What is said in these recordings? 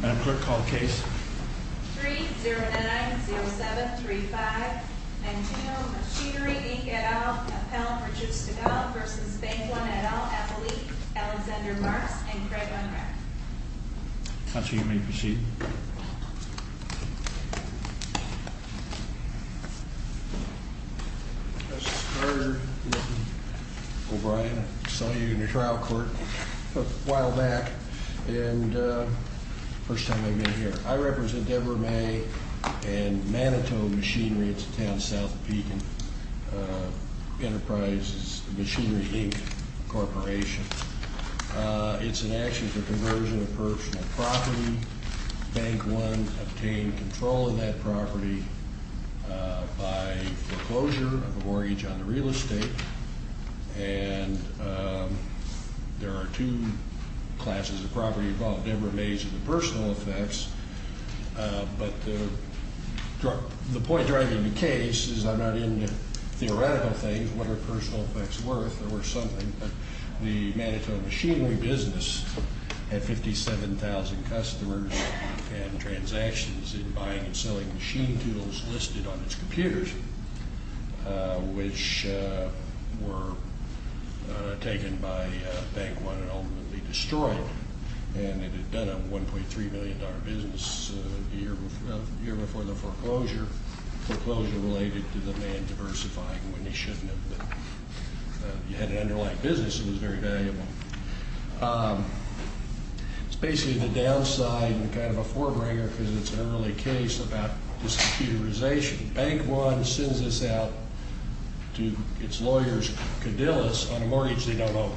Madam Clerk, call the case. 3-0-9-0-7-3-5 Manito Machinery, Inc. et al. Appellant Richard Stegall v. Bank One et al. Appellee Alexander Marks and Craig Unreck Counsel, you may proceed. Justice Carter, O'Brien, I saw you in the trial court a while back and it's the first time I've been here. I represent Deborah May and Manito Machinery, it's a town south of Pekin, Enterprises Machinery, Inc. Corporation. It's an action for conversion of personal property. Bank One obtained control of that property by foreclosure of a mortgage on the real estate and there are two classes of property involved, Deborah May's and the personal effects, but the point driving the case is I'm not into theoretical things, what are personal effects worth or something, but the Manito Machinery business had 57,000 customers and transactions in buying and selling machine tools listed on its computers, which were taken by Bank One and ultimately destroyed and it had done a $1.3 million business the year before the foreclosure, foreclosure related to the man diversifying when he shouldn't have been. You had an underlying business, it was very valuable. It's basically the downside and kind of a forebringer because it's an early case about discomputerization. Bank One sends this out to its lawyers, Cadillus, on a mortgage they don't own.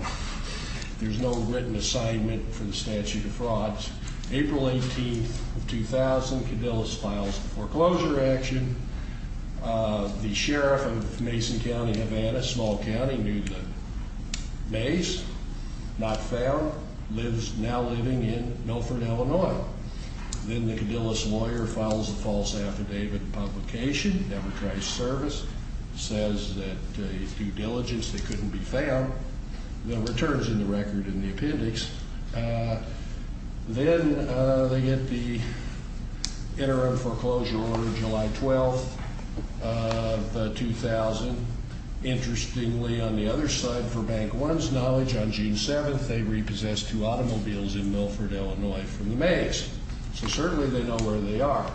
There's no written assignment for the statute of frauds. April 18, 2000, Cadillus files the foreclosure action. The sheriff of Mason County, Havana, small county, knew that Mays, not found, lives now living in Milford, Illinois. Then the Cadillus lawyer files a false affidavit and publication, never tries service, says that due diligence they couldn't be found. No returns in the record in the appendix. Then they get the interim foreclosure order July 12, 2000. Interestingly, on the other side, for Bank One's knowledge, on June 7, they repossessed two automobiles in Milford, Illinois from the Mays, so certainly they know where they are.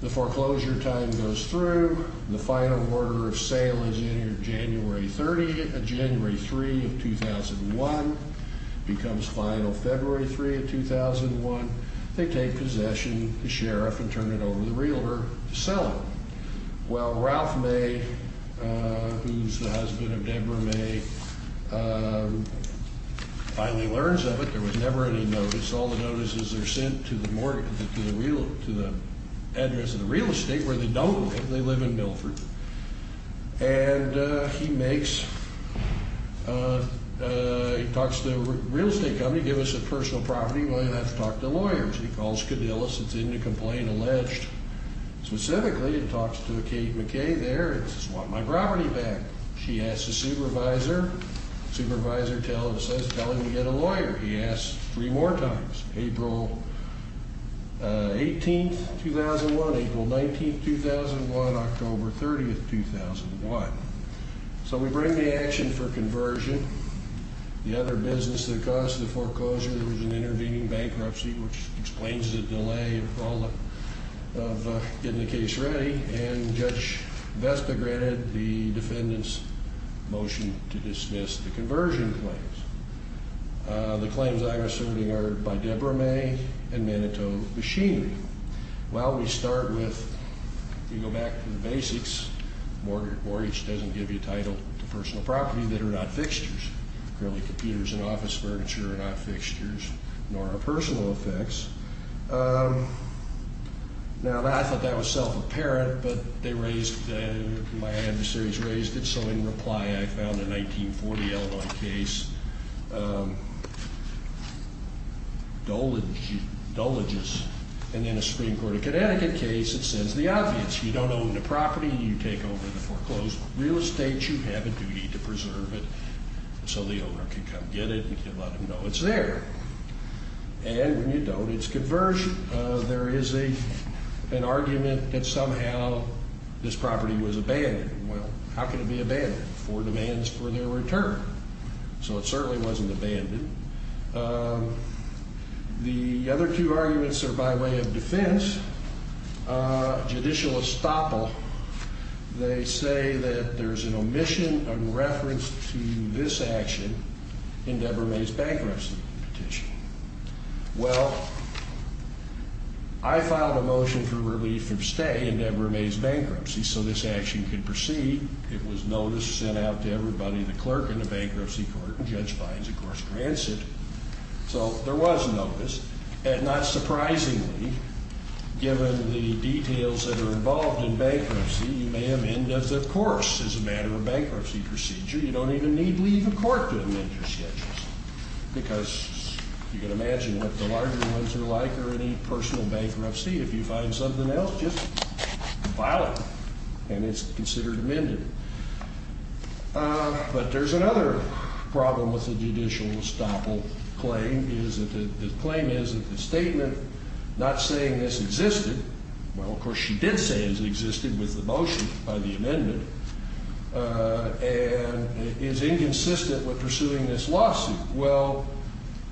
The foreclosure time goes through. The final order of sale is January 3, 2001, becomes final February 3, 2001. They take possession, the sheriff, and turn it over to the realtor to sell it. Well, Ralph May, who's the husband of Deborah May, finally learns of it. There was never any notice. All the notices are sent to the address of the real estate, where they don't live. They live in Milford. And he makes... He talks to the real estate company, give us a personal property, well, you'll have to talk to lawyers. He calls Cadillus, it's in the complaint, alleged. Specifically, he talks to Kate McKay there and says, want my property back. She asks the supervisor. Supervisor says, tell him to get a lawyer. He asks three more times, April 18, 2001, April 19, 2001, October 30, 2001. So we bring the action for conversion. The other business that caused the foreclosure was an intervening bankruptcy, which explains the delay of getting the case ready. And Judge Vesta granted the defendant's motion to dismiss the conversion claims. The claims I'm asserting are by Debra May and Manitou Machinery. Well, we start with, if you go back to the basics, mortgage doesn't give you title to personal property that are not fixtures. Clearly, computers and office furniture are not fixtures, nor are personal effects. Now, I thought that was self-apparent, but they raised, my adversaries raised it, so in reply, I found a 1940 Illinois case, Duligis, and then a Supreme Court of Connecticut case that says the obvious. You don't own the property. You take over the foreclosed real estate. You have a duty to preserve it, so the owner can come get it and let them know it's there. And when you don't, it's conversion. There is an argument that somehow this property was abandoned. Well, how can it be abandoned? Four demands for their return. So it certainly wasn't abandoned. The other two arguments are by way of defense. Judicial estoppel, they say that there's an omission in reference to this action in Debra May's bankruptcy petition. Well, I filed a motion for relief from stay in Debra May's bankruptcy so this action could proceed. It was noticed, sent out to everybody, the clerk in the bankruptcy court, and Judge Fines, of course, grants it. So there was notice, and not surprisingly, given the details that are involved in bankruptcy, you may have ended up, of course, as a matter of bankruptcy procedure. You don't even need leave of court to amend your schedules because you can imagine what the larger ones are like or any personal bankruptcy. If you find something else, just file it, and it's considered amended. But there's another problem with the judicial estoppel claim. The claim is that the statement not saying this existed, well, of course, she did say it existed with the motion by the amendment, and is inconsistent with pursuing this lawsuit. Well,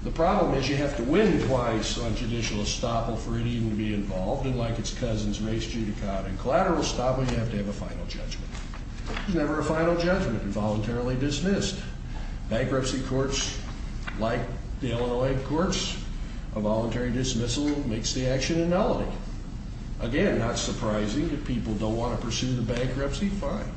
the problem is you have to win twice on judicial estoppel for it even to be involved, and like its cousins, race, judicata, and collateral estoppel, you have to have a final judgment. There's never a final judgment involuntarily dismissed. Bankruptcy courts, like the Illinois courts, a voluntary dismissal makes the action annulled. Again, not surprising. If people don't want to pursue the bankruptcy, fine.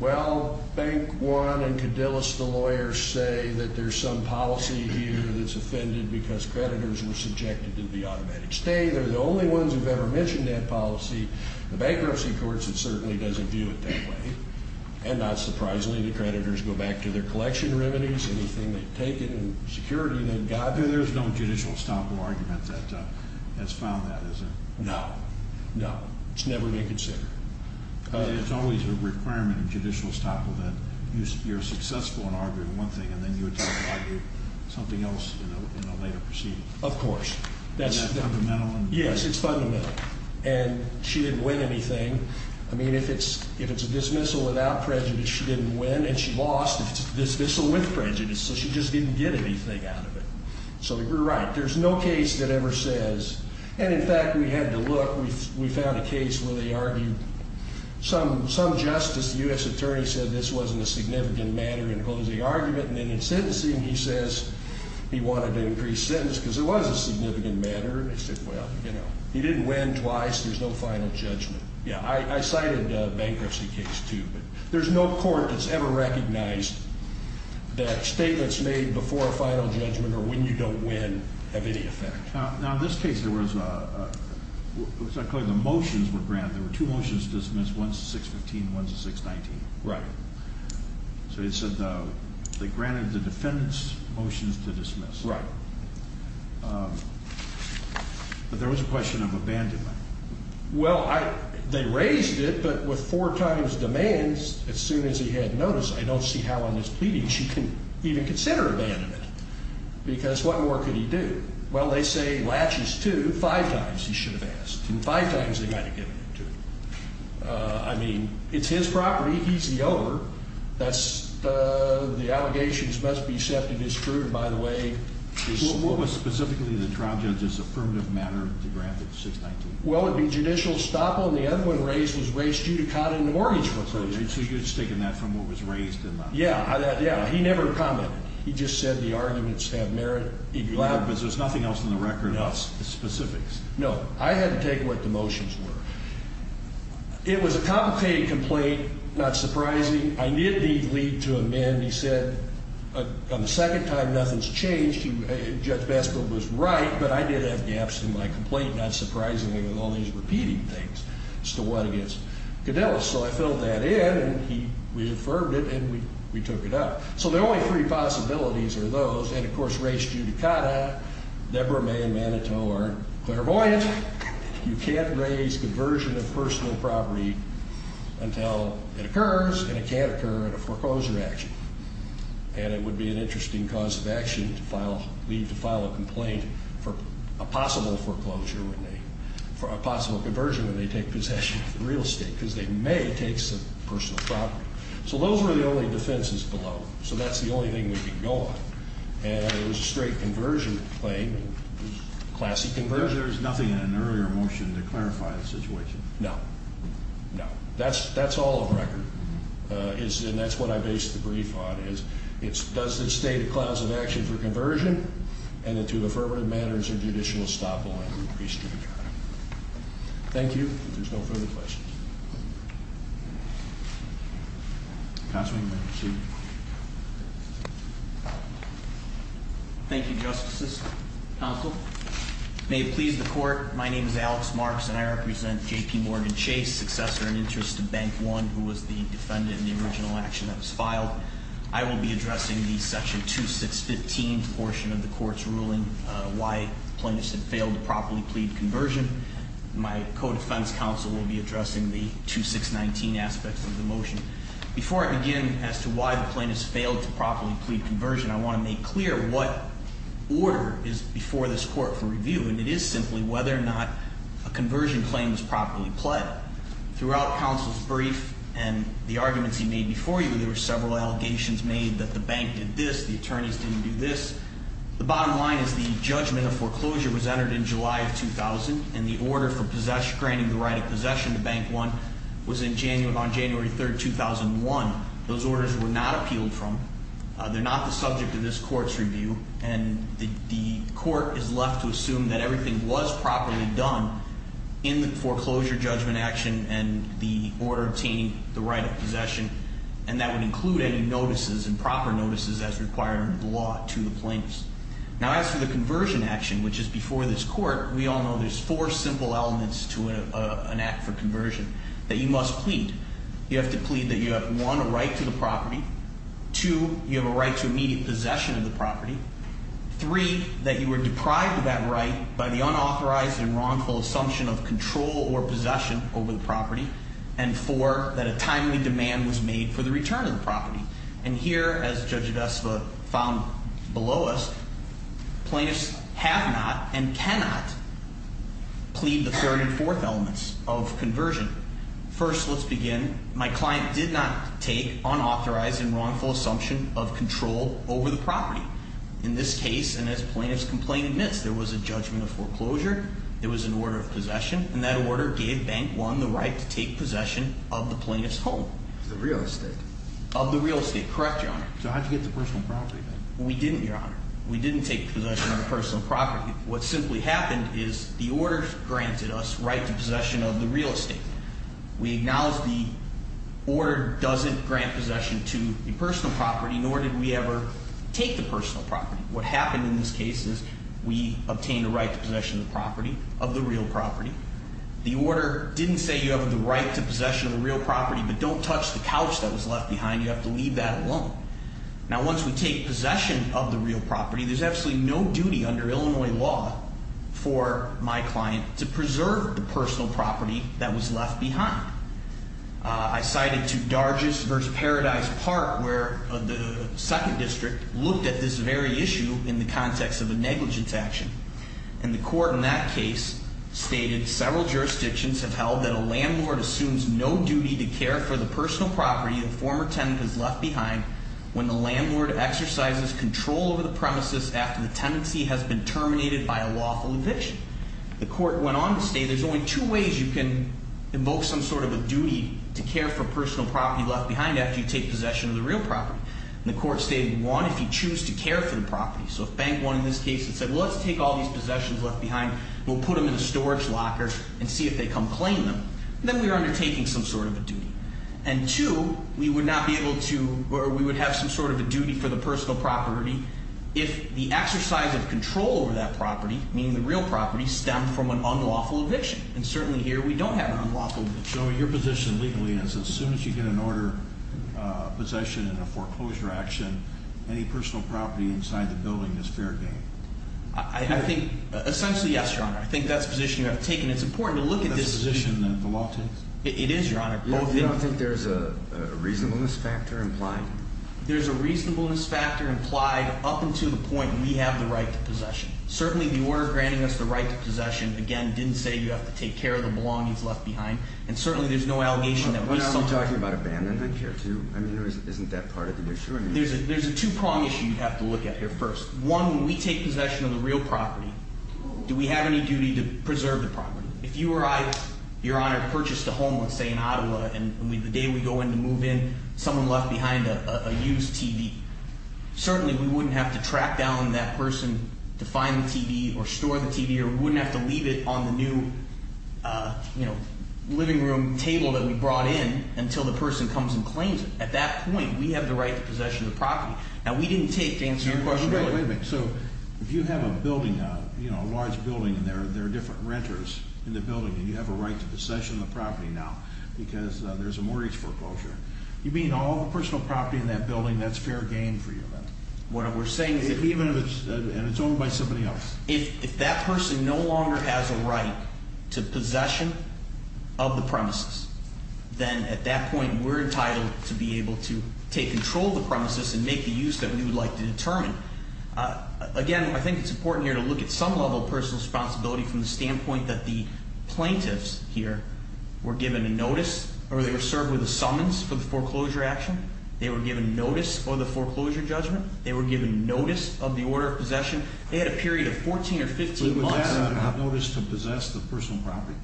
Well, Bank One and Cadillus, the lawyers, say that there's some policy here that's offended because creditors were subjected to the automatic stay. They're the only ones who've ever mentioned that policy. The bankruptcy courts, it certainly doesn't view it that way. And not surprisingly, the creditors go back to their collection remedies, anything they've taken, and security they've gotten. There's no judicial estoppel argument that has found that, is there? No, no. It's never been considered. It's always a requirement in judicial estoppel that you're successful in arguing one thing, and then you attempt to argue something else in a later proceeding. Of course. Is that fundamental? Yes, it's fundamental. And she didn't win anything. I mean, if it's a dismissal without prejudice, she didn't win, and she lost if it's a dismissal with prejudice, so she just didn't get anything out of it. So you're right. There's no case that ever says, and in fact, we had to look. We found a case where they argued some justice, the U.S. attorney said this wasn't a significant matter in closing argument, and then in sentencing he says he wanted to increase sentence because it was a significant matter. They said, well, you know, he didn't win twice. There's no final judgment. Yeah, I cited a bankruptcy case too, but there's no court that's ever recognized that statements made before a final judgment or when you don't win have any effect. Now, in this case, there was a motion for grant. There were two motions dismissed, one's a 615, one's a 619. Right. So they said they granted the defendant's motions to dismiss. Right. But there was a question of abandonment. Well, they raised it, but with four times demands, as soon as he had notice, I don't see how on his pleading she can even consider abandonment because what more could he do? Well, they say he latches to five times he should have asked, and five times they might have given it to him. I mean, it's his property. He's the owner. The allegations must be set to disprove, by the way. What was specifically the trial judge's affirmative matter to grant the 619? Well, it would be judicial estoppel, and the other one raised was race judicata in the mortgage facilities. So you're just taking that from what was raised in the— Yeah, yeah. He never commented. He just said the arguments have merit. But there's nothing else in the record about the specifics. No. I had to take what the motions were. It was a complicated complaint, not surprising. I did need to lead to amend. He said on the second time nothing's changed. Judge Bassburg was right, but I did have gaps in my complaint, not surprisingly, with all these repeating things as to what against Cadellis. So I filled that in, and we affirmed it, and we took it up. So the only three possibilities are those, and, of course, race judicata. Deborah May and Manitou are clairvoyant. You can't raise conversion of personal property until it occurs, and it can't occur in a foreclosure action. And it would be an interesting cause of action to file— leave to file a complaint for a possible foreclosure when they— for a possible conversion when they take possession of the real estate because they may take some personal property. So those were the only defenses below. So that's the only thing we could go on. And it was a straight conversion claim. Classy conversion. There's nothing in an earlier motion to clarify the situation. No. No. That's all of record, and that's what I based the brief on, is does it stay the clause of action for conversion, and do the affirmative matters or judicial estoppel increase judicata? Thank you. If there's no further questions. Counsel, you may proceed. Thank you, Justices. Counsel, may it please the Court, my name is Alex Marks, and I represent J.P. Morgan Chase, successor in interest to Bank One, who was the defendant in the original action that was filed. I will be addressing the Section 2615 portion of the Court's ruling why plaintiffs have failed to properly plead conversion. My co-defense counsel will be addressing the 2619 aspects of the motion. Before I begin as to why the plaintiffs failed to properly plead conversion, I want to make clear what order is before this Court for review, and it is simply whether or not a conversion claim was properly pled. Throughout counsel's brief and the arguments he made before you, there were several allegations made that the bank did this, the attorneys didn't do this. The bottom line is the judgment of foreclosure was entered in July of 2000, and the order for granting the right of possession to Bank One was on January 3, 2001. Those orders were not appealed from. They're not the subject of this Court's review, and the Court is left to assume that everything was properly done in the foreclosure judgment action and the order obtaining the right of possession, and that would include any notices and proper notices as required under the law to the plaintiffs. Now, as for the conversion action, which is before this Court, we all know there's four simple elements to an act for conversion that you must plead. You have to plead that you have, one, a right to the property, two, you have a right to immediate possession of the property, three, that you were deprived of that right by the unauthorized and wrongful assumption of control or possession over the property, and four, that a timely demand was made for the return of the property. And here, as Judge Vesva found below us, plaintiffs have not and cannot plead the third and fourth elements of conversion. First, let's begin. My client did not take unauthorized and wrongful assumption of control over the property. In this case, and as plaintiffs' complaint admits, there was a judgment of foreclosure. There was an order of possession, and that order gave Bank One the right to take possession of the plaintiff's home. The real estate? Of the real estate, correct, Your Honor. So how did you get the personal property then? We didn't, Your Honor. We didn't take possession of the personal property. What simply happened is the order granted us right to possession of the real estate. We acknowledge the order doesn't grant possession to the personal property, nor did we ever take the personal property. What happened in this case is we obtained a right to possession of the property, of the real property. The order didn't say you have the right to possession of the real property, but don't touch the couch that was left behind. You have to leave that alone. Now, once we take possession of the real property, there's absolutely no duty under Illinois law for my client to preserve the personal property that was left behind. I cited to Dargis v. Paradise Park, where the 2nd District looked at this very issue in the context of a negligence action. And the court in that case stated several jurisdictions have held that a landlord assumes no duty to care for the personal property the former tenant has left behind when the landlord exercises control over the premises after the tenancy has been terminated by a lawful eviction. The court went on to state there's only two ways you can invoke some sort of a duty to care for personal property left behind after you take possession of the real property. And the court stated, one, if you choose to care for the property. So if bank one in this case had said, well, let's take all these possessions left behind, we'll put them in a storage locker and see if they come claim them, then we are undertaking some sort of a duty. And two, we would not be able to, or we would have some sort of a duty for the personal property if the exercise of control over that property, meaning the real property, stemmed from an unlawful eviction. And certainly here, we don't have an unlawful eviction. So your position legally is as soon as you get an order, possession, and a foreclosure action, any personal property inside the building is fair game? I think, essentially, yes, Your Honor. I think that's the position you have taken. It's important to look at this- That's the position that the law takes? It is, Your Honor. You don't think there's a reasonableness factor implied? There's a reasonableness factor implied up until the point we have the right to possession. Certainly the order granting us the right to possession, again, didn't say you have to take care of the belongings left behind. And certainly there's no allegation that- But aren't we talking about abandonment here too? I mean, isn't that part of the issue? There's a two-prong issue you have to look at here first. One, when we take possession of the real property, do we have any duty to preserve the property? If you or I, Your Honor, purchased a home, let's say in Ottawa, and the day we go in to move in, someone left behind a used TV, certainly we wouldn't have to track down that person to find the TV or store the TV, or we wouldn't have to leave it on the new living room table that we brought in until the person comes and claims it. At that point, we have the right to possession of the property. Now, we didn't take to answer your question earlier. Wait a minute. So if you have a building now, a large building, and there are different renters in the building, and you have a right to possession of the property now because there's a mortgage foreclosure, you mean all the personal property in that building, that's fair game for you then? What we're saying is- Even if it's owned by somebody else? If that person no longer has a right to possession of the premises, then at that point we're entitled to be able to take control of the premises and make the use that we would like to determine. Again, I think it's important here to look at some level of personal responsibility from the standpoint that the plaintiffs here were given a notice or they were served with a summons for the foreclosure action. They were given notice for the foreclosure judgment. They were given notice of the order of possession. They had a period of 14 or 15 months- Was that a notice to possess the personal property?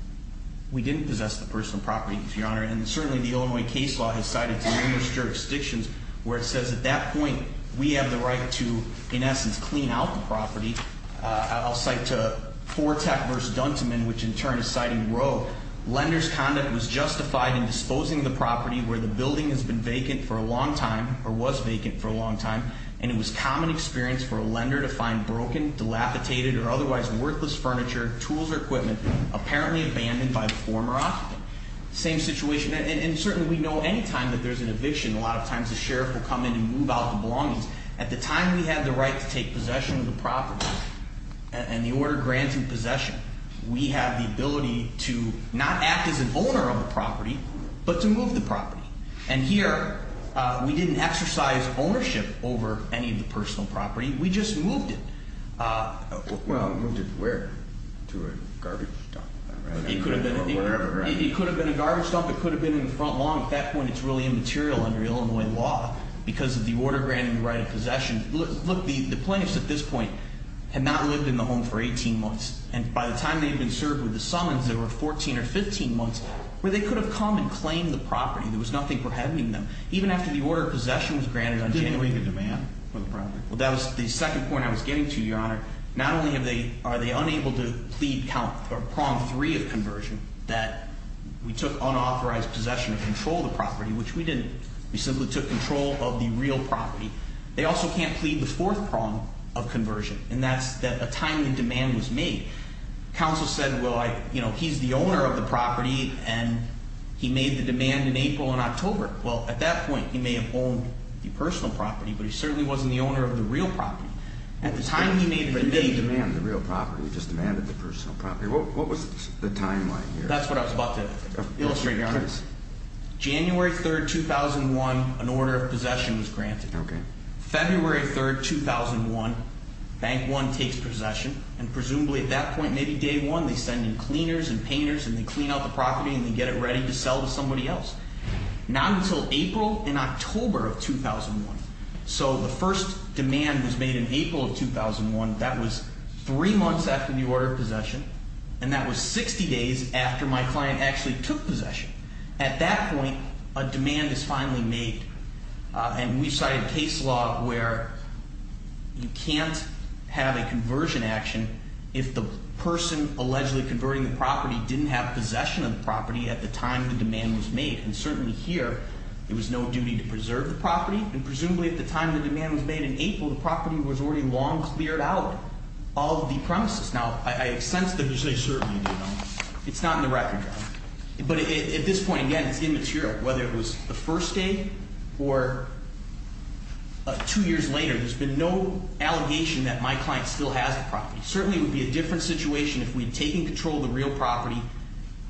We didn't possess the personal property, Your Honor, and certainly the Illinois case law has cited numerous jurisdictions where it says at that point we have the right to, in essence, clean out the property. I'll cite Forteck v. Dunteman, which in turn is citing Roe. Lenders' conduct was justified in disposing of the property where the building has been vacant for a long time, or was vacant for a long time, and it was common experience for a lender to find broken, dilapidated, or otherwise worthless furniture, tools, or equipment apparently abandoned by the former occupant. Same situation, and certainly we know anytime that there's an eviction, a lot of times the sheriff will come in and move out the belongings. At the time we had the right to take possession of the property, and the order granting possession, we have the ability to not act as an owner of the property, but to move the property. And here we didn't exercise ownership over any of the personal property. We just moved it. Well, moved it where? To a garbage dump. It could have been a garbage dump. It could have been in the front lawn. At that point it's really immaterial under Illinois law because of the order granting the right of possession. Look, the plaintiffs at this point had not lived in the home for 18 months, and by the time they had been served with the summons there were 14 or 15 months where they could have come and claimed the property. There was nothing prohibiting them. Even after the order of possession was granted on January- Didn't we leave the demand for the property? Well, that was the second point I was getting to, Your Honor. Not only are they unable to plead prong three of conversion, that we took unauthorized possession of control of the property, which we didn't. We simply took control of the real property. They also can't plead the fourth prong of conversion, and that's that a timely demand was made. Counsel said, well, he's the owner of the property, and he made the demand in April and October. Well, at that point he may have owned the personal property, but he certainly wasn't the owner of the real property. At the time he made the demand- He didn't demand the real property, he just demanded the personal property. What was the timeline here? That's what I was about to illustrate, Your Honor. January 3rd, 2001, an order of possession was granted. Okay. February 3rd, 2001, Bank One takes possession, and presumably at that point, maybe day one, they send in cleaners and painters, and they clean out the property, and they get it ready to sell to somebody else. Not until April and October of 2001. So the first demand was made in April of 2001. That was three months after the order of possession, and that was 60 days after my client actually took possession. At that point, a demand is finally made, and we've cited case law where you can't have a conversion action if the person allegedly converting the property didn't have possession of the property at the time the demand was made. And certainly here, there was no duty to preserve the property, and presumably at the time the demand was made in April, the property was already long cleared out of the premises. Now, I sense that you say certainly, Your Honor. It's not in the record, Your Honor. But at this point, again, it's immaterial. Whether it was the first day or two years later, there's been no allegation that my client still has the property. Certainly it would be a different situation if we'd taken control of the real property,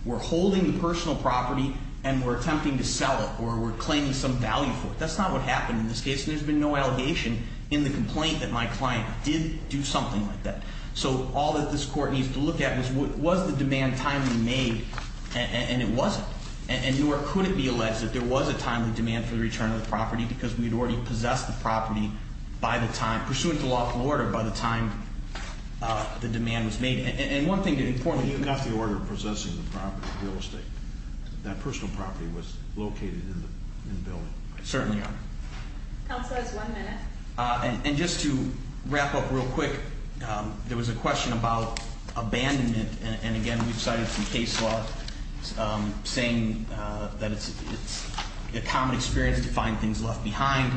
we're holding the personal property, and we're attempting to sell it or we're claiming some value for it. That's not what happened in this case, and there's been no allegation in the complaint that my client did do something like that. So all that this court needs to look at is, was the demand timely made? And it wasn't. And nor could it be alleged that there was a timely demand for the return of the property because we'd already possessed the property by the time, pursuant to lawful order, by the time the demand was made. And one thing that's important- You got the order of possessing the property, the real estate. That personal property was located in the building. Certainly, Your Honor. Counselors, one minute. And just to wrap up real quick, there was a question about abandonment. And again, we've cited some case law saying that it's a common experience to find things left behind.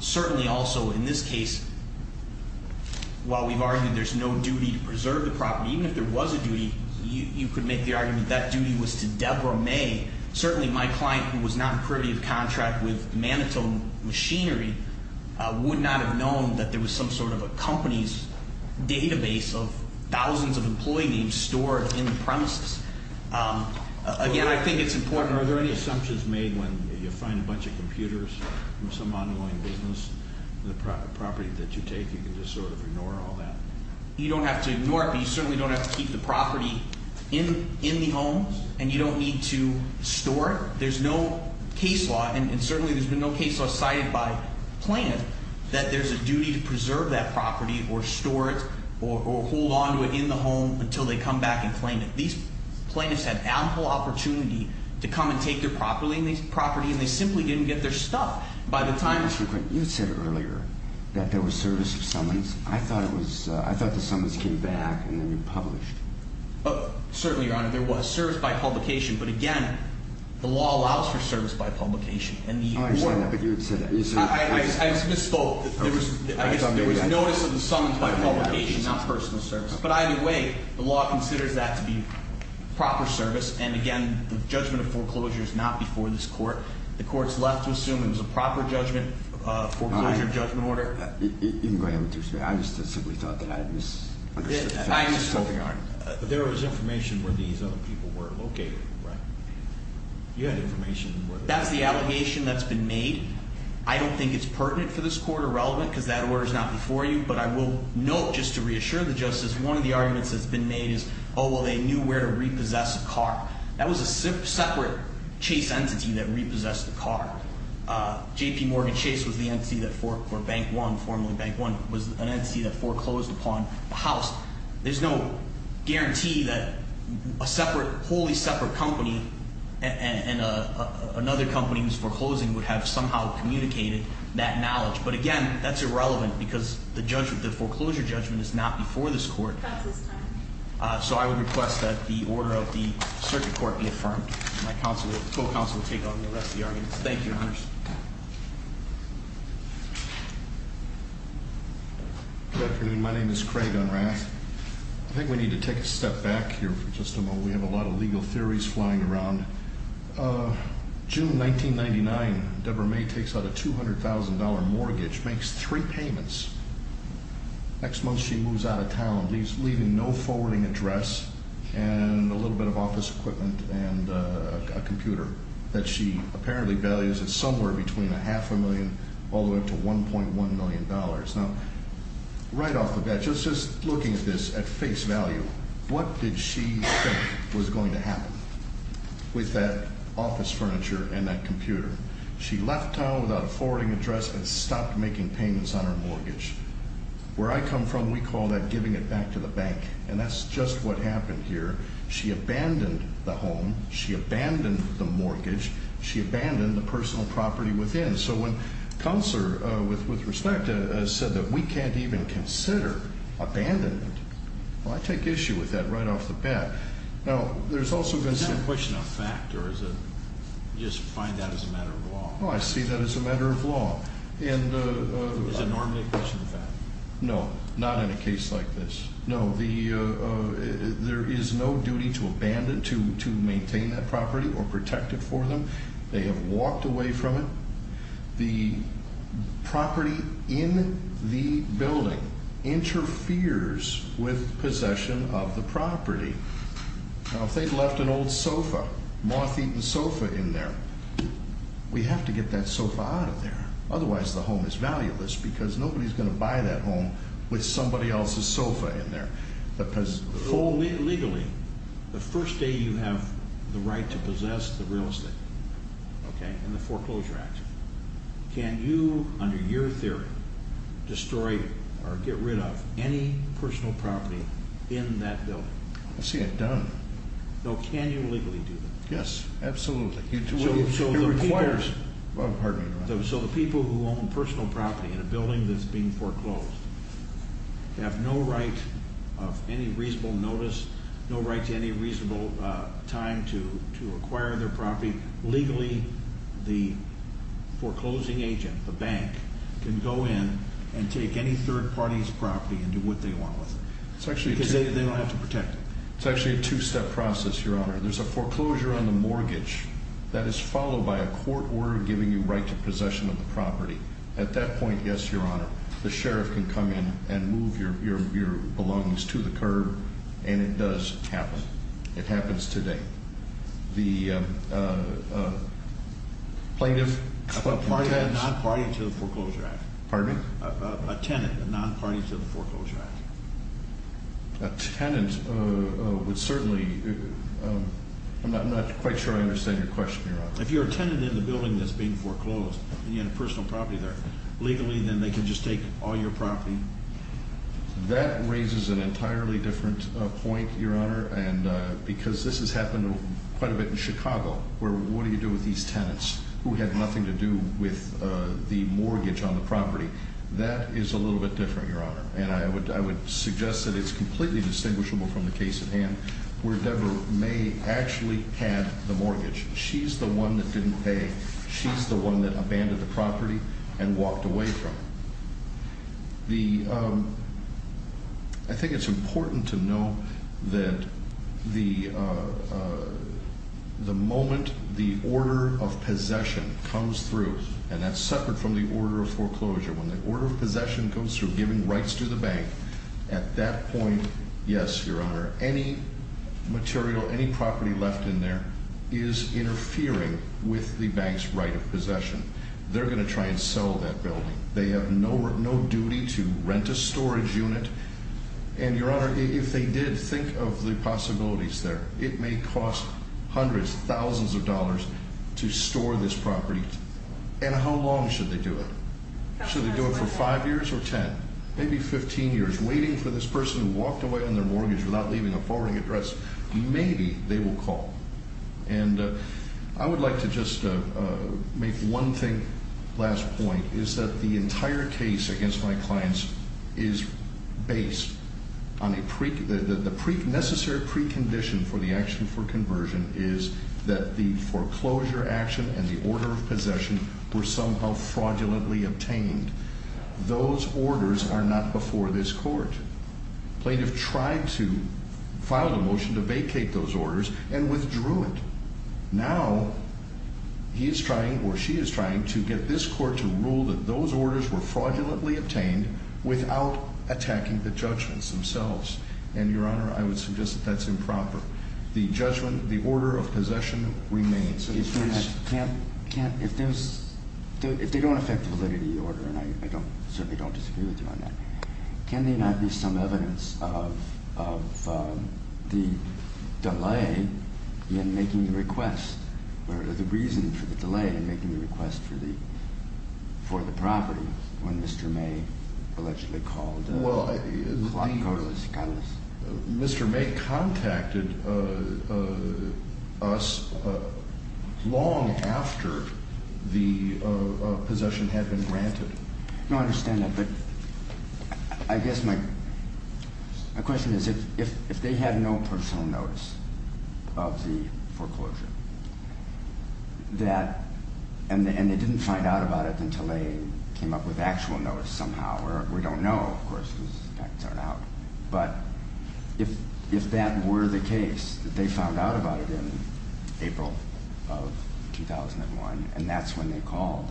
Certainly also in this case, while we've argued there's no duty to preserve the property, even if there was a duty, you could make the argument that duty was to Deborah May. Certainly, my client, who was not privy of contract with Manitou Machinery, would not have known that there was some sort of a company's database of thousands of employee names stored in the premises. Again, I think it's important- Are there any assumptions made when you find a bunch of computers from some ongoing business? The property that you take, you can just sort of ignore all that? You don't have to ignore it, but you certainly don't have to keep the property in the home, and you don't need to store it. There's no case law, and certainly there's been no case law cited by plaintiff that there's a duty to preserve that property or store it or hold on to it in the home until they come back and claim it. These plaintiffs had ample opportunity to come and take their property, and they simply didn't get their stuff. By the time- Mr. McQuinn, you had said earlier that there was service of summons. I thought the summons came back and they were published. Certainly, Your Honor, there was service by publication, but again, the law allows for service by publication. Oh, I understand that, but you had said that. I misspoke. There was notice of the summons by publication, not personal service. But either way, the law considers that to be proper service, and again, the judgment of foreclosure is not before this court. The court's left to assume it was a proper judgment, foreclosure judgment order. You can go ahead with your statement. I just simply thought that I misunderstood. I misspoke, Your Honor. There was information where these other people were located, right? You had information where- That's the allegation that's been made. I don't think it's pertinent for this court or relevant because that order is not before you, but I will note just to reassure the justice, one of the arguments that's been made is, oh, well, they knew where to repossess a car. That was a separate Chase entity that repossessed the car. J.P. Morgan Chase was the entity that, or Bank One, formerly Bank One, was an entity that foreclosed upon the house. There's no guarantee that a separate, wholly separate company and another company was foreclosing would have somehow communicated that knowledge. But again, that's irrelevant because the judgment, the foreclosure judgment is not before this court. That's his time. So I would request that the order of the circuit court be affirmed. My co-counsel will take on the rest of the arguments. Thank you, Your Honors. Good afternoon. My name is Craig Unrath. I think we need to take a step back here for just a moment. We have a lot of legal theories flying around. June 1999, Deborah May takes out a $200,000 mortgage, makes three payments. Next month, she moves out of town, leaving no forwarding address and a little bit of office equipment and a computer that she apparently values at somewhere between a half a million all the way up to $1.1 million. Now, right off the bat, just looking at this at face value, what did she think was going to happen with that office furniture and that computer? She left town without a forwarding address and stopped making payments on her mortgage. Where I come from, we call that giving it back to the bank. And that's just what happened here. She abandoned the home. She abandoned the mortgage. She abandoned the personal property within. So when Counselor, with respect, said that we can't even consider abandonment, well, I take issue with that right off the bat. Is that a question of fact or do you just find that as a matter of law? Oh, I see that as a matter of law. Is it normally a question of fact? No, not in a case like this. No, there is no duty to abandon, to maintain that property or protect it for them. They have walked away from it. The property in the building interferes with possession of the property. Now, if they've left an old sofa, moth-eaten sofa in there, we have to get that sofa out of there. Otherwise, the home is valueless because nobody's going to buy that home with somebody else's sofa in there. Legally, the first day you have the right to possess the real estate, okay, in the Foreclosure Act, can you, under your theory, destroy or get rid of any personal property in that building? I see it done. So can you legally do that? Yes, absolutely. So the people who own personal property in a building that's being foreclosed have no right of any reasonable notice, no right to any reasonable time to acquire their property. Legally, the foreclosing agent, the bank, can go in and take any third party's property and do what they want with it because they don't have to protect it. It's actually a two-step process, Your Honor. There's a foreclosure on the mortgage that is followed by a court order giving you right to possession of the property. At that point, yes, Your Honor, the sheriff can come in and move your belongings to the curb, and it does happen. It happens today. The plaintiff- A non-party to the Foreclosure Act. Pardon me? A tenant, a non-party to the Foreclosure Act. A tenant would certainly-I'm not quite sure I understand your question, Your Honor. If you're a tenant in a building that's being foreclosed and you have a personal property there, legally then they can just take all your property? That raises an entirely different point, Your Honor, because this has happened quite a bit in Chicago where what do you do with these tenants who had nothing to do with the mortgage on the property? That is a little bit different, Your Honor, and I would suggest that it's completely distinguishable from the case at hand where Deborah May actually had the mortgage. She's the one that didn't pay. She's the one that abandoned the property and walked away from it. I think it's important to know that the moment the order of possession comes through, and that's separate from the order of foreclosure. When the order of possession comes through, giving rights to the bank, at that point, yes, Your Honor, any material, any property left in there is interfering with the bank's right of possession. They're going to try and sell that building. They have no duty to rent a storage unit, and, Your Honor, if they did, think of the possibilities there. It may cost hundreds, thousands of dollars to store this property, and how long should they do it? Should they do it for five years or ten, maybe 15 years, waiting for this person who walked away on their mortgage without leaving a forwarding address? Maybe they will call. And I would like to just make one thing, last point, is that the entire case against my clients is based on the necessary precondition for the action for conversion is that the foreclosure action and the order of possession were somehow fraudulently obtained. Those orders are not before this court. Plaintiff tried to file the motion to vacate those orders and withdrew it. Now he is trying or she is trying to get this court to rule that those orders were fraudulently obtained without attacking the judgments themselves, and, Your Honor, I would suggest that that's improper. The judgment, the order of possession remains. If they don't affect the validity of the order, and I certainly don't disagree with you on that, can there not be some evidence of the delay in making the request or the reason for the delay in making the request for the property when Mr. May allegedly called us? Well, Mr. May contacted us long after the possession had been granted. No, I understand that, but I guess my question is if they had no personal notice of the foreclosure, and they didn't find out about it until they came up with actual notice somehow, or we don't know, of course, because the facts aren't out, but if that were the case, that they found out about it in April of 2001, and that's when they called,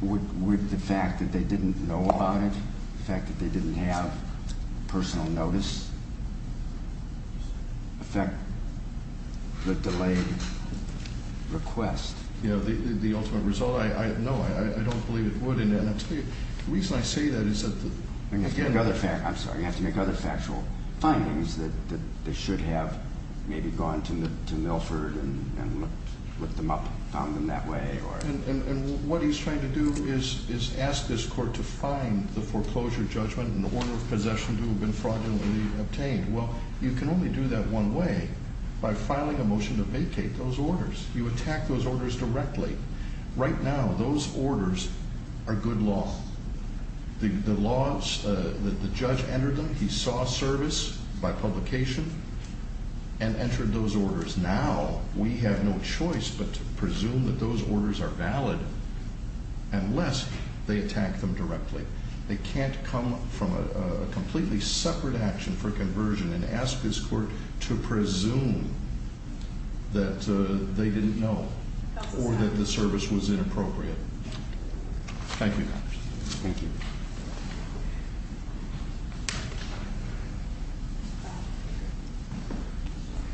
would the fact that they didn't know about it, the fact that they didn't have personal notice, affect the delayed request? The ultimate result, no, I don't believe it would, and the reason I say that is that... I'm sorry, you have to make other factual findings that they should have maybe gone to Milford and looked them up, found them that way, or... And what he's trying to do is ask this court to find the foreclosure judgment and the order of possession to have been fraudulently obtained. Well, you can only do that one way, by filing a motion to vacate those orders. You attack those orders directly. Right now, those orders are good law. The judge entered them, he saw service by publication, and entered those orders. Now, we have no choice but to presume that those orders are valid unless they attack them directly. They can't come from a completely separate action for conversion and ask this court to presume that they didn't know or that the service was inappropriate. Thank you. Thank you.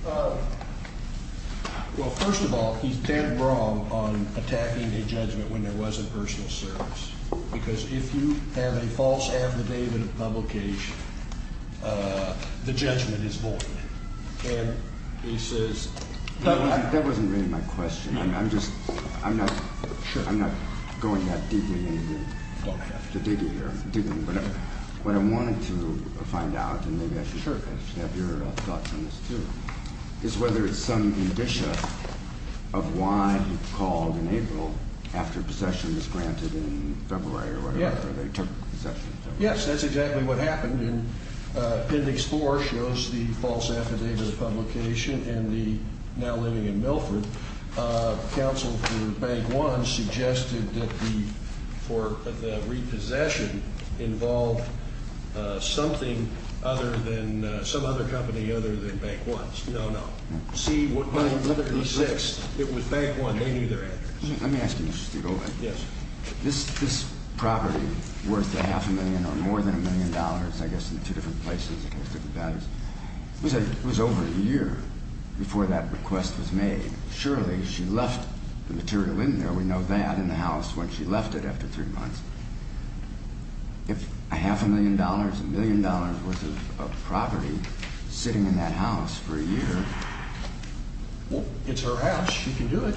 Well, first of all, he's dead wrong on attacking a judgment when there wasn't personal service, because if you have a false affidavit of publication, the judgment is void. And he says... That wasn't really my question. I'm just... I'm not... Sure. I'm not going that deeply into the digging here. Digging, whatever. What I wanted to find out, and maybe I should have your thoughts on this, too, is whether it's some indicia of why he called in April after possession was granted in February or whatever, or they took possession in February. Yes, that's exactly what happened. Appendix 4 shows the false affidavit of publication in the now living in Milford. Counsel for Bank 1 suggested that the repossession involved something other than... Some other company other than Bank 1's. No, no. C-136, it was Bank 1. They knew their address. Let me ask you, Mr. Stigol. Yes. This property worth a half a million or more than a million dollars, I guess, in two different places, it has different values. It was over a year before that request was made. Surely she left the material in there, we know that, in the house when she left it after three months. If a half a million dollars, a million dollars worth of property sitting in that house for a year... Well, it's her house. She can do it.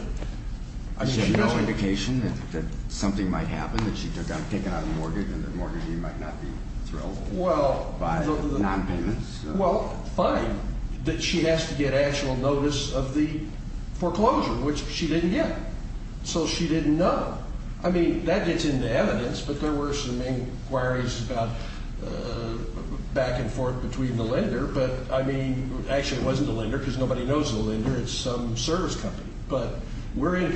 I mean, she had no indication that something might happen, that she took out a mortgage and the mortgagee might not be thrilled by nonpayments? Well, fine. That she has to get actual notice of the foreclosure, which she didn't get. So she didn't know. I mean, that gets into evidence, but there were some inquiries about back and forth between the lender. But, I mean, actually it wasn't the lender because nobody knows the lender, it's some service company. But we're in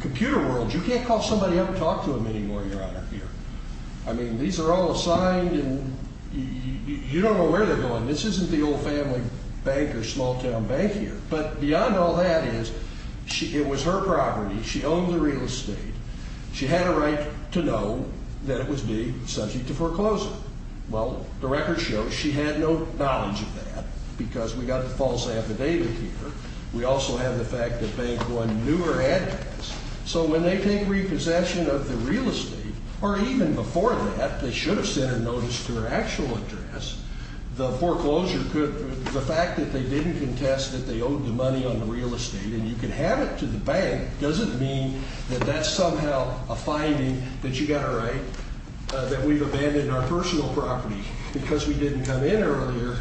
computer world. You can't call somebody up and talk to them anymore, Your Honor, here. I mean, these are all assigned and you don't know where they're going. This isn't the old family bank or small town bank here. But beyond all that is, it was her property, she owned the real estate. She had a right to know that it was being subject to foreclosure. Well, the records show she had no knowledge of that because we got the false affidavit here. We also have the fact that bank one knew her address. So when they take repossession of the real estate, or even before that, they should have sent a notice to her actual address, the foreclosure could, the fact that they didn't contest that they owed the money on the real estate and you could have it to the bank doesn't mean that that's somehow a finding that you got it right, that we've abandoned our personal property because we didn't come in earlier.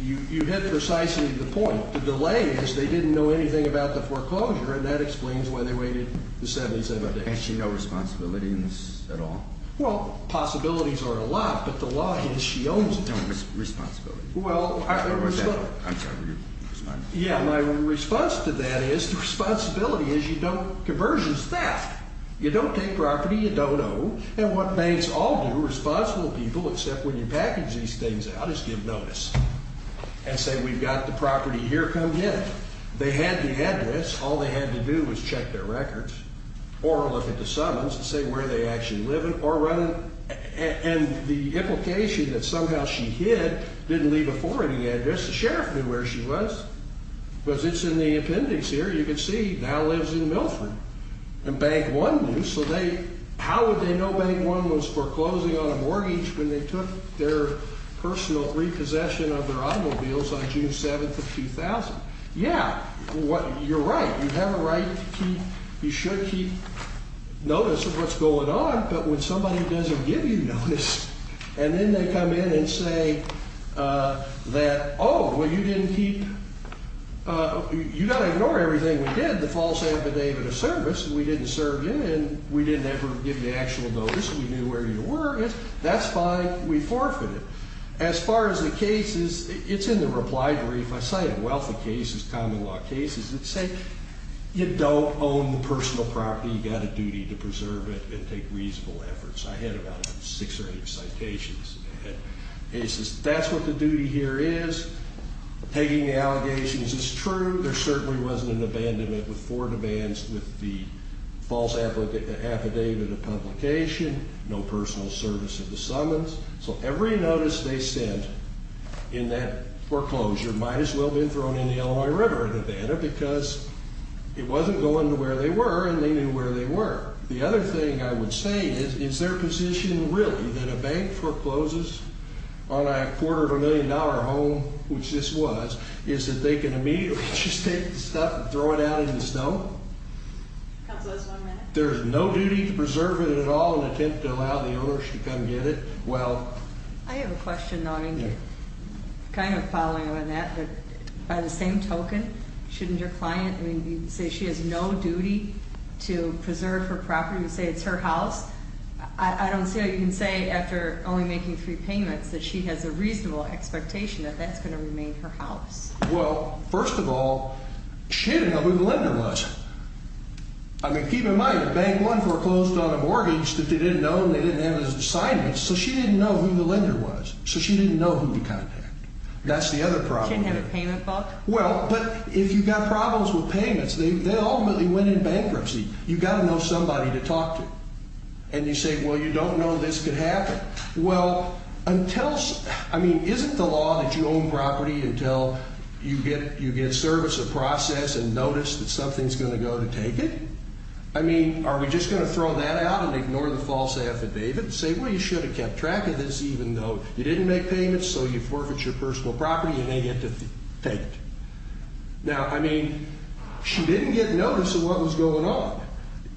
You hit precisely the point. The delay is they didn't know anything about the foreclosure and that explains why they waited the 77 days. And she had no responsibility in this at all? Well, possibilities are a lot, but the law is she owns it. No responsibility. Well, I'm sorry. Yeah, my response to that is the responsibility is you don't, conversion's theft. You don't take property you don't owe. And what banks all do, responsible people, except when you package these things out, is give notice and say we've got the property here, come get it. They had the address. All they had to do was check their records or look at the summons and say where they actually live or run it. And the implication that somehow she hid, didn't leave a foreign address, the sheriff knew where she was. Because it's in the appendix here, you can see, now lives in Milford. And Bank One knew, so how would they know Bank One was foreclosing on a mortgage when they took their personal repossession of their automobiles on June 7th of 2000? Yeah, you're right. You have a right to keep, you should keep notice of what's going on, but when somebody doesn't give you notice and then they come in and say that, oh, well, you didn't keep, you've got to ignore everything we did, you had the false affidavit of service and we didn't serve you and we didn't ever give you actual notice and we knew where you were, that's fine, we forfeit it. As far as the cases, it's in the reply brief. I cite a wealth of cases, common law cases that say you don't own the personal property, you've got a duty to preserve it and take reasonable efforts. I had about six or eight citations. That's what the duty here is. Taking the allegations is true. There certainly wasn't an abandonment with four demands with the false affidavit of publication, no personal service at the summons. So every notice they sent in that foreclosure might as well have been thrown in the Illinois River in Havana because it wasn't going to where they were and they knew where they were. The other thing I would say is, is their position really that a bank forecloses on a quarter of a million dollar home, which this was, is that they can immediately just take the stuff and throw it out in the snow? Counsel, just one minute. There's no duty to preserve it at all in an attempt to allow the owners to come get it? I have a question, kind of following on that, but by the same token, shouldn't your client say she has no duty to preserve her property and say it's her house? I don't see how you can say after only making three payments that she has a reasonable expectation that that's going to remain her house. Well, first of all, she didn't know who the lender was. I mean, keep in mind, a bank once foreclosed on a mortgage that they didn't know and they didn't have his assignment, so she didn't know who the lender was. So she didn't know who to contact. That's the other problem. She didn't have a payment book? Well, but if you've got problems with payments, they ultimately went in bankruptcy. You've got to know somebody to talk to. And you say, well, you don't know this could happen. Well, until, I mean, isn't the law that you own property until you get service of process and notice that something's going to go to take it? I mean, are we just going to throw that out and ignore the false affidavit and say, well, you should have kept track of this even though you didn't make payments, so you forfeit your personal property and they get to take it? Now, I mean, she didn't get notice of what was going on.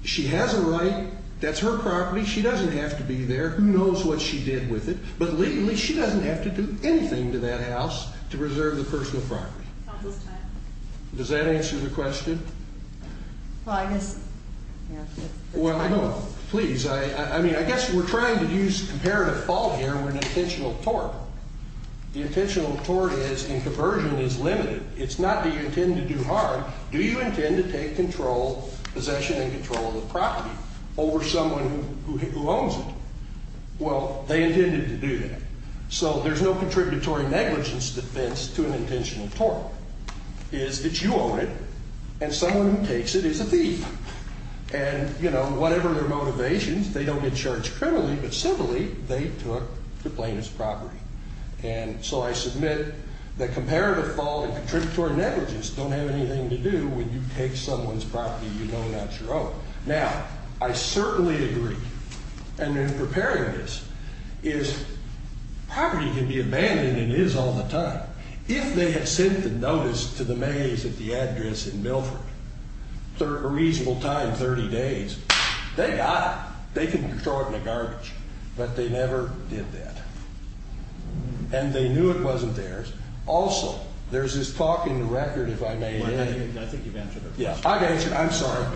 She has a right. That's her property. She doesn't have to be there. Who knows what she did with it? But legally, she doesn't have to do anything to that house to preserve the personal property. Counsel's time. Does that answer the question? Well, I guess, yeah. Well, I don't know. Please, I mean, I guess we're trying to use comparative fault here. We're an intentional tort. The intentional tort is, and conversion is limited. It's not do you intend to do harm. Do you intend to take control, possession and control of the property over someone who owns it? Well, they intended to do that. So there's no contributory negligence defense to an intentional tort. It's that you own it and someone who takes it is a thief. And, you know, whatever their motivations, they don't get charged criminally, but civilly they took the plaintiff's property. And so I submit that comparative fault and contributory negligence don't have anything to do when you take someone's property you know not your own. Now, I certainly agree, and in preparing this, is property can be abandoned and is all the time. If they had sent the notice to the maize at the address in Milford a reasonable time, 30 days, they got it. They can throw it in the garbage, but they never did that. And they knew it wasn't theirs. Also, there's this talk in the record, if I may add. I think you've answered it. Yeah, I've answered it. I'm sorry.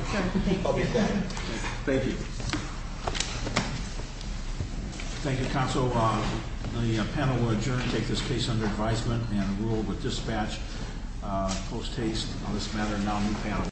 I'll be back. Thank you. Thank you, counsel. The panel will adjourn and take this case under advisement and rule with dispatch post-haste. On this matter, now new panel.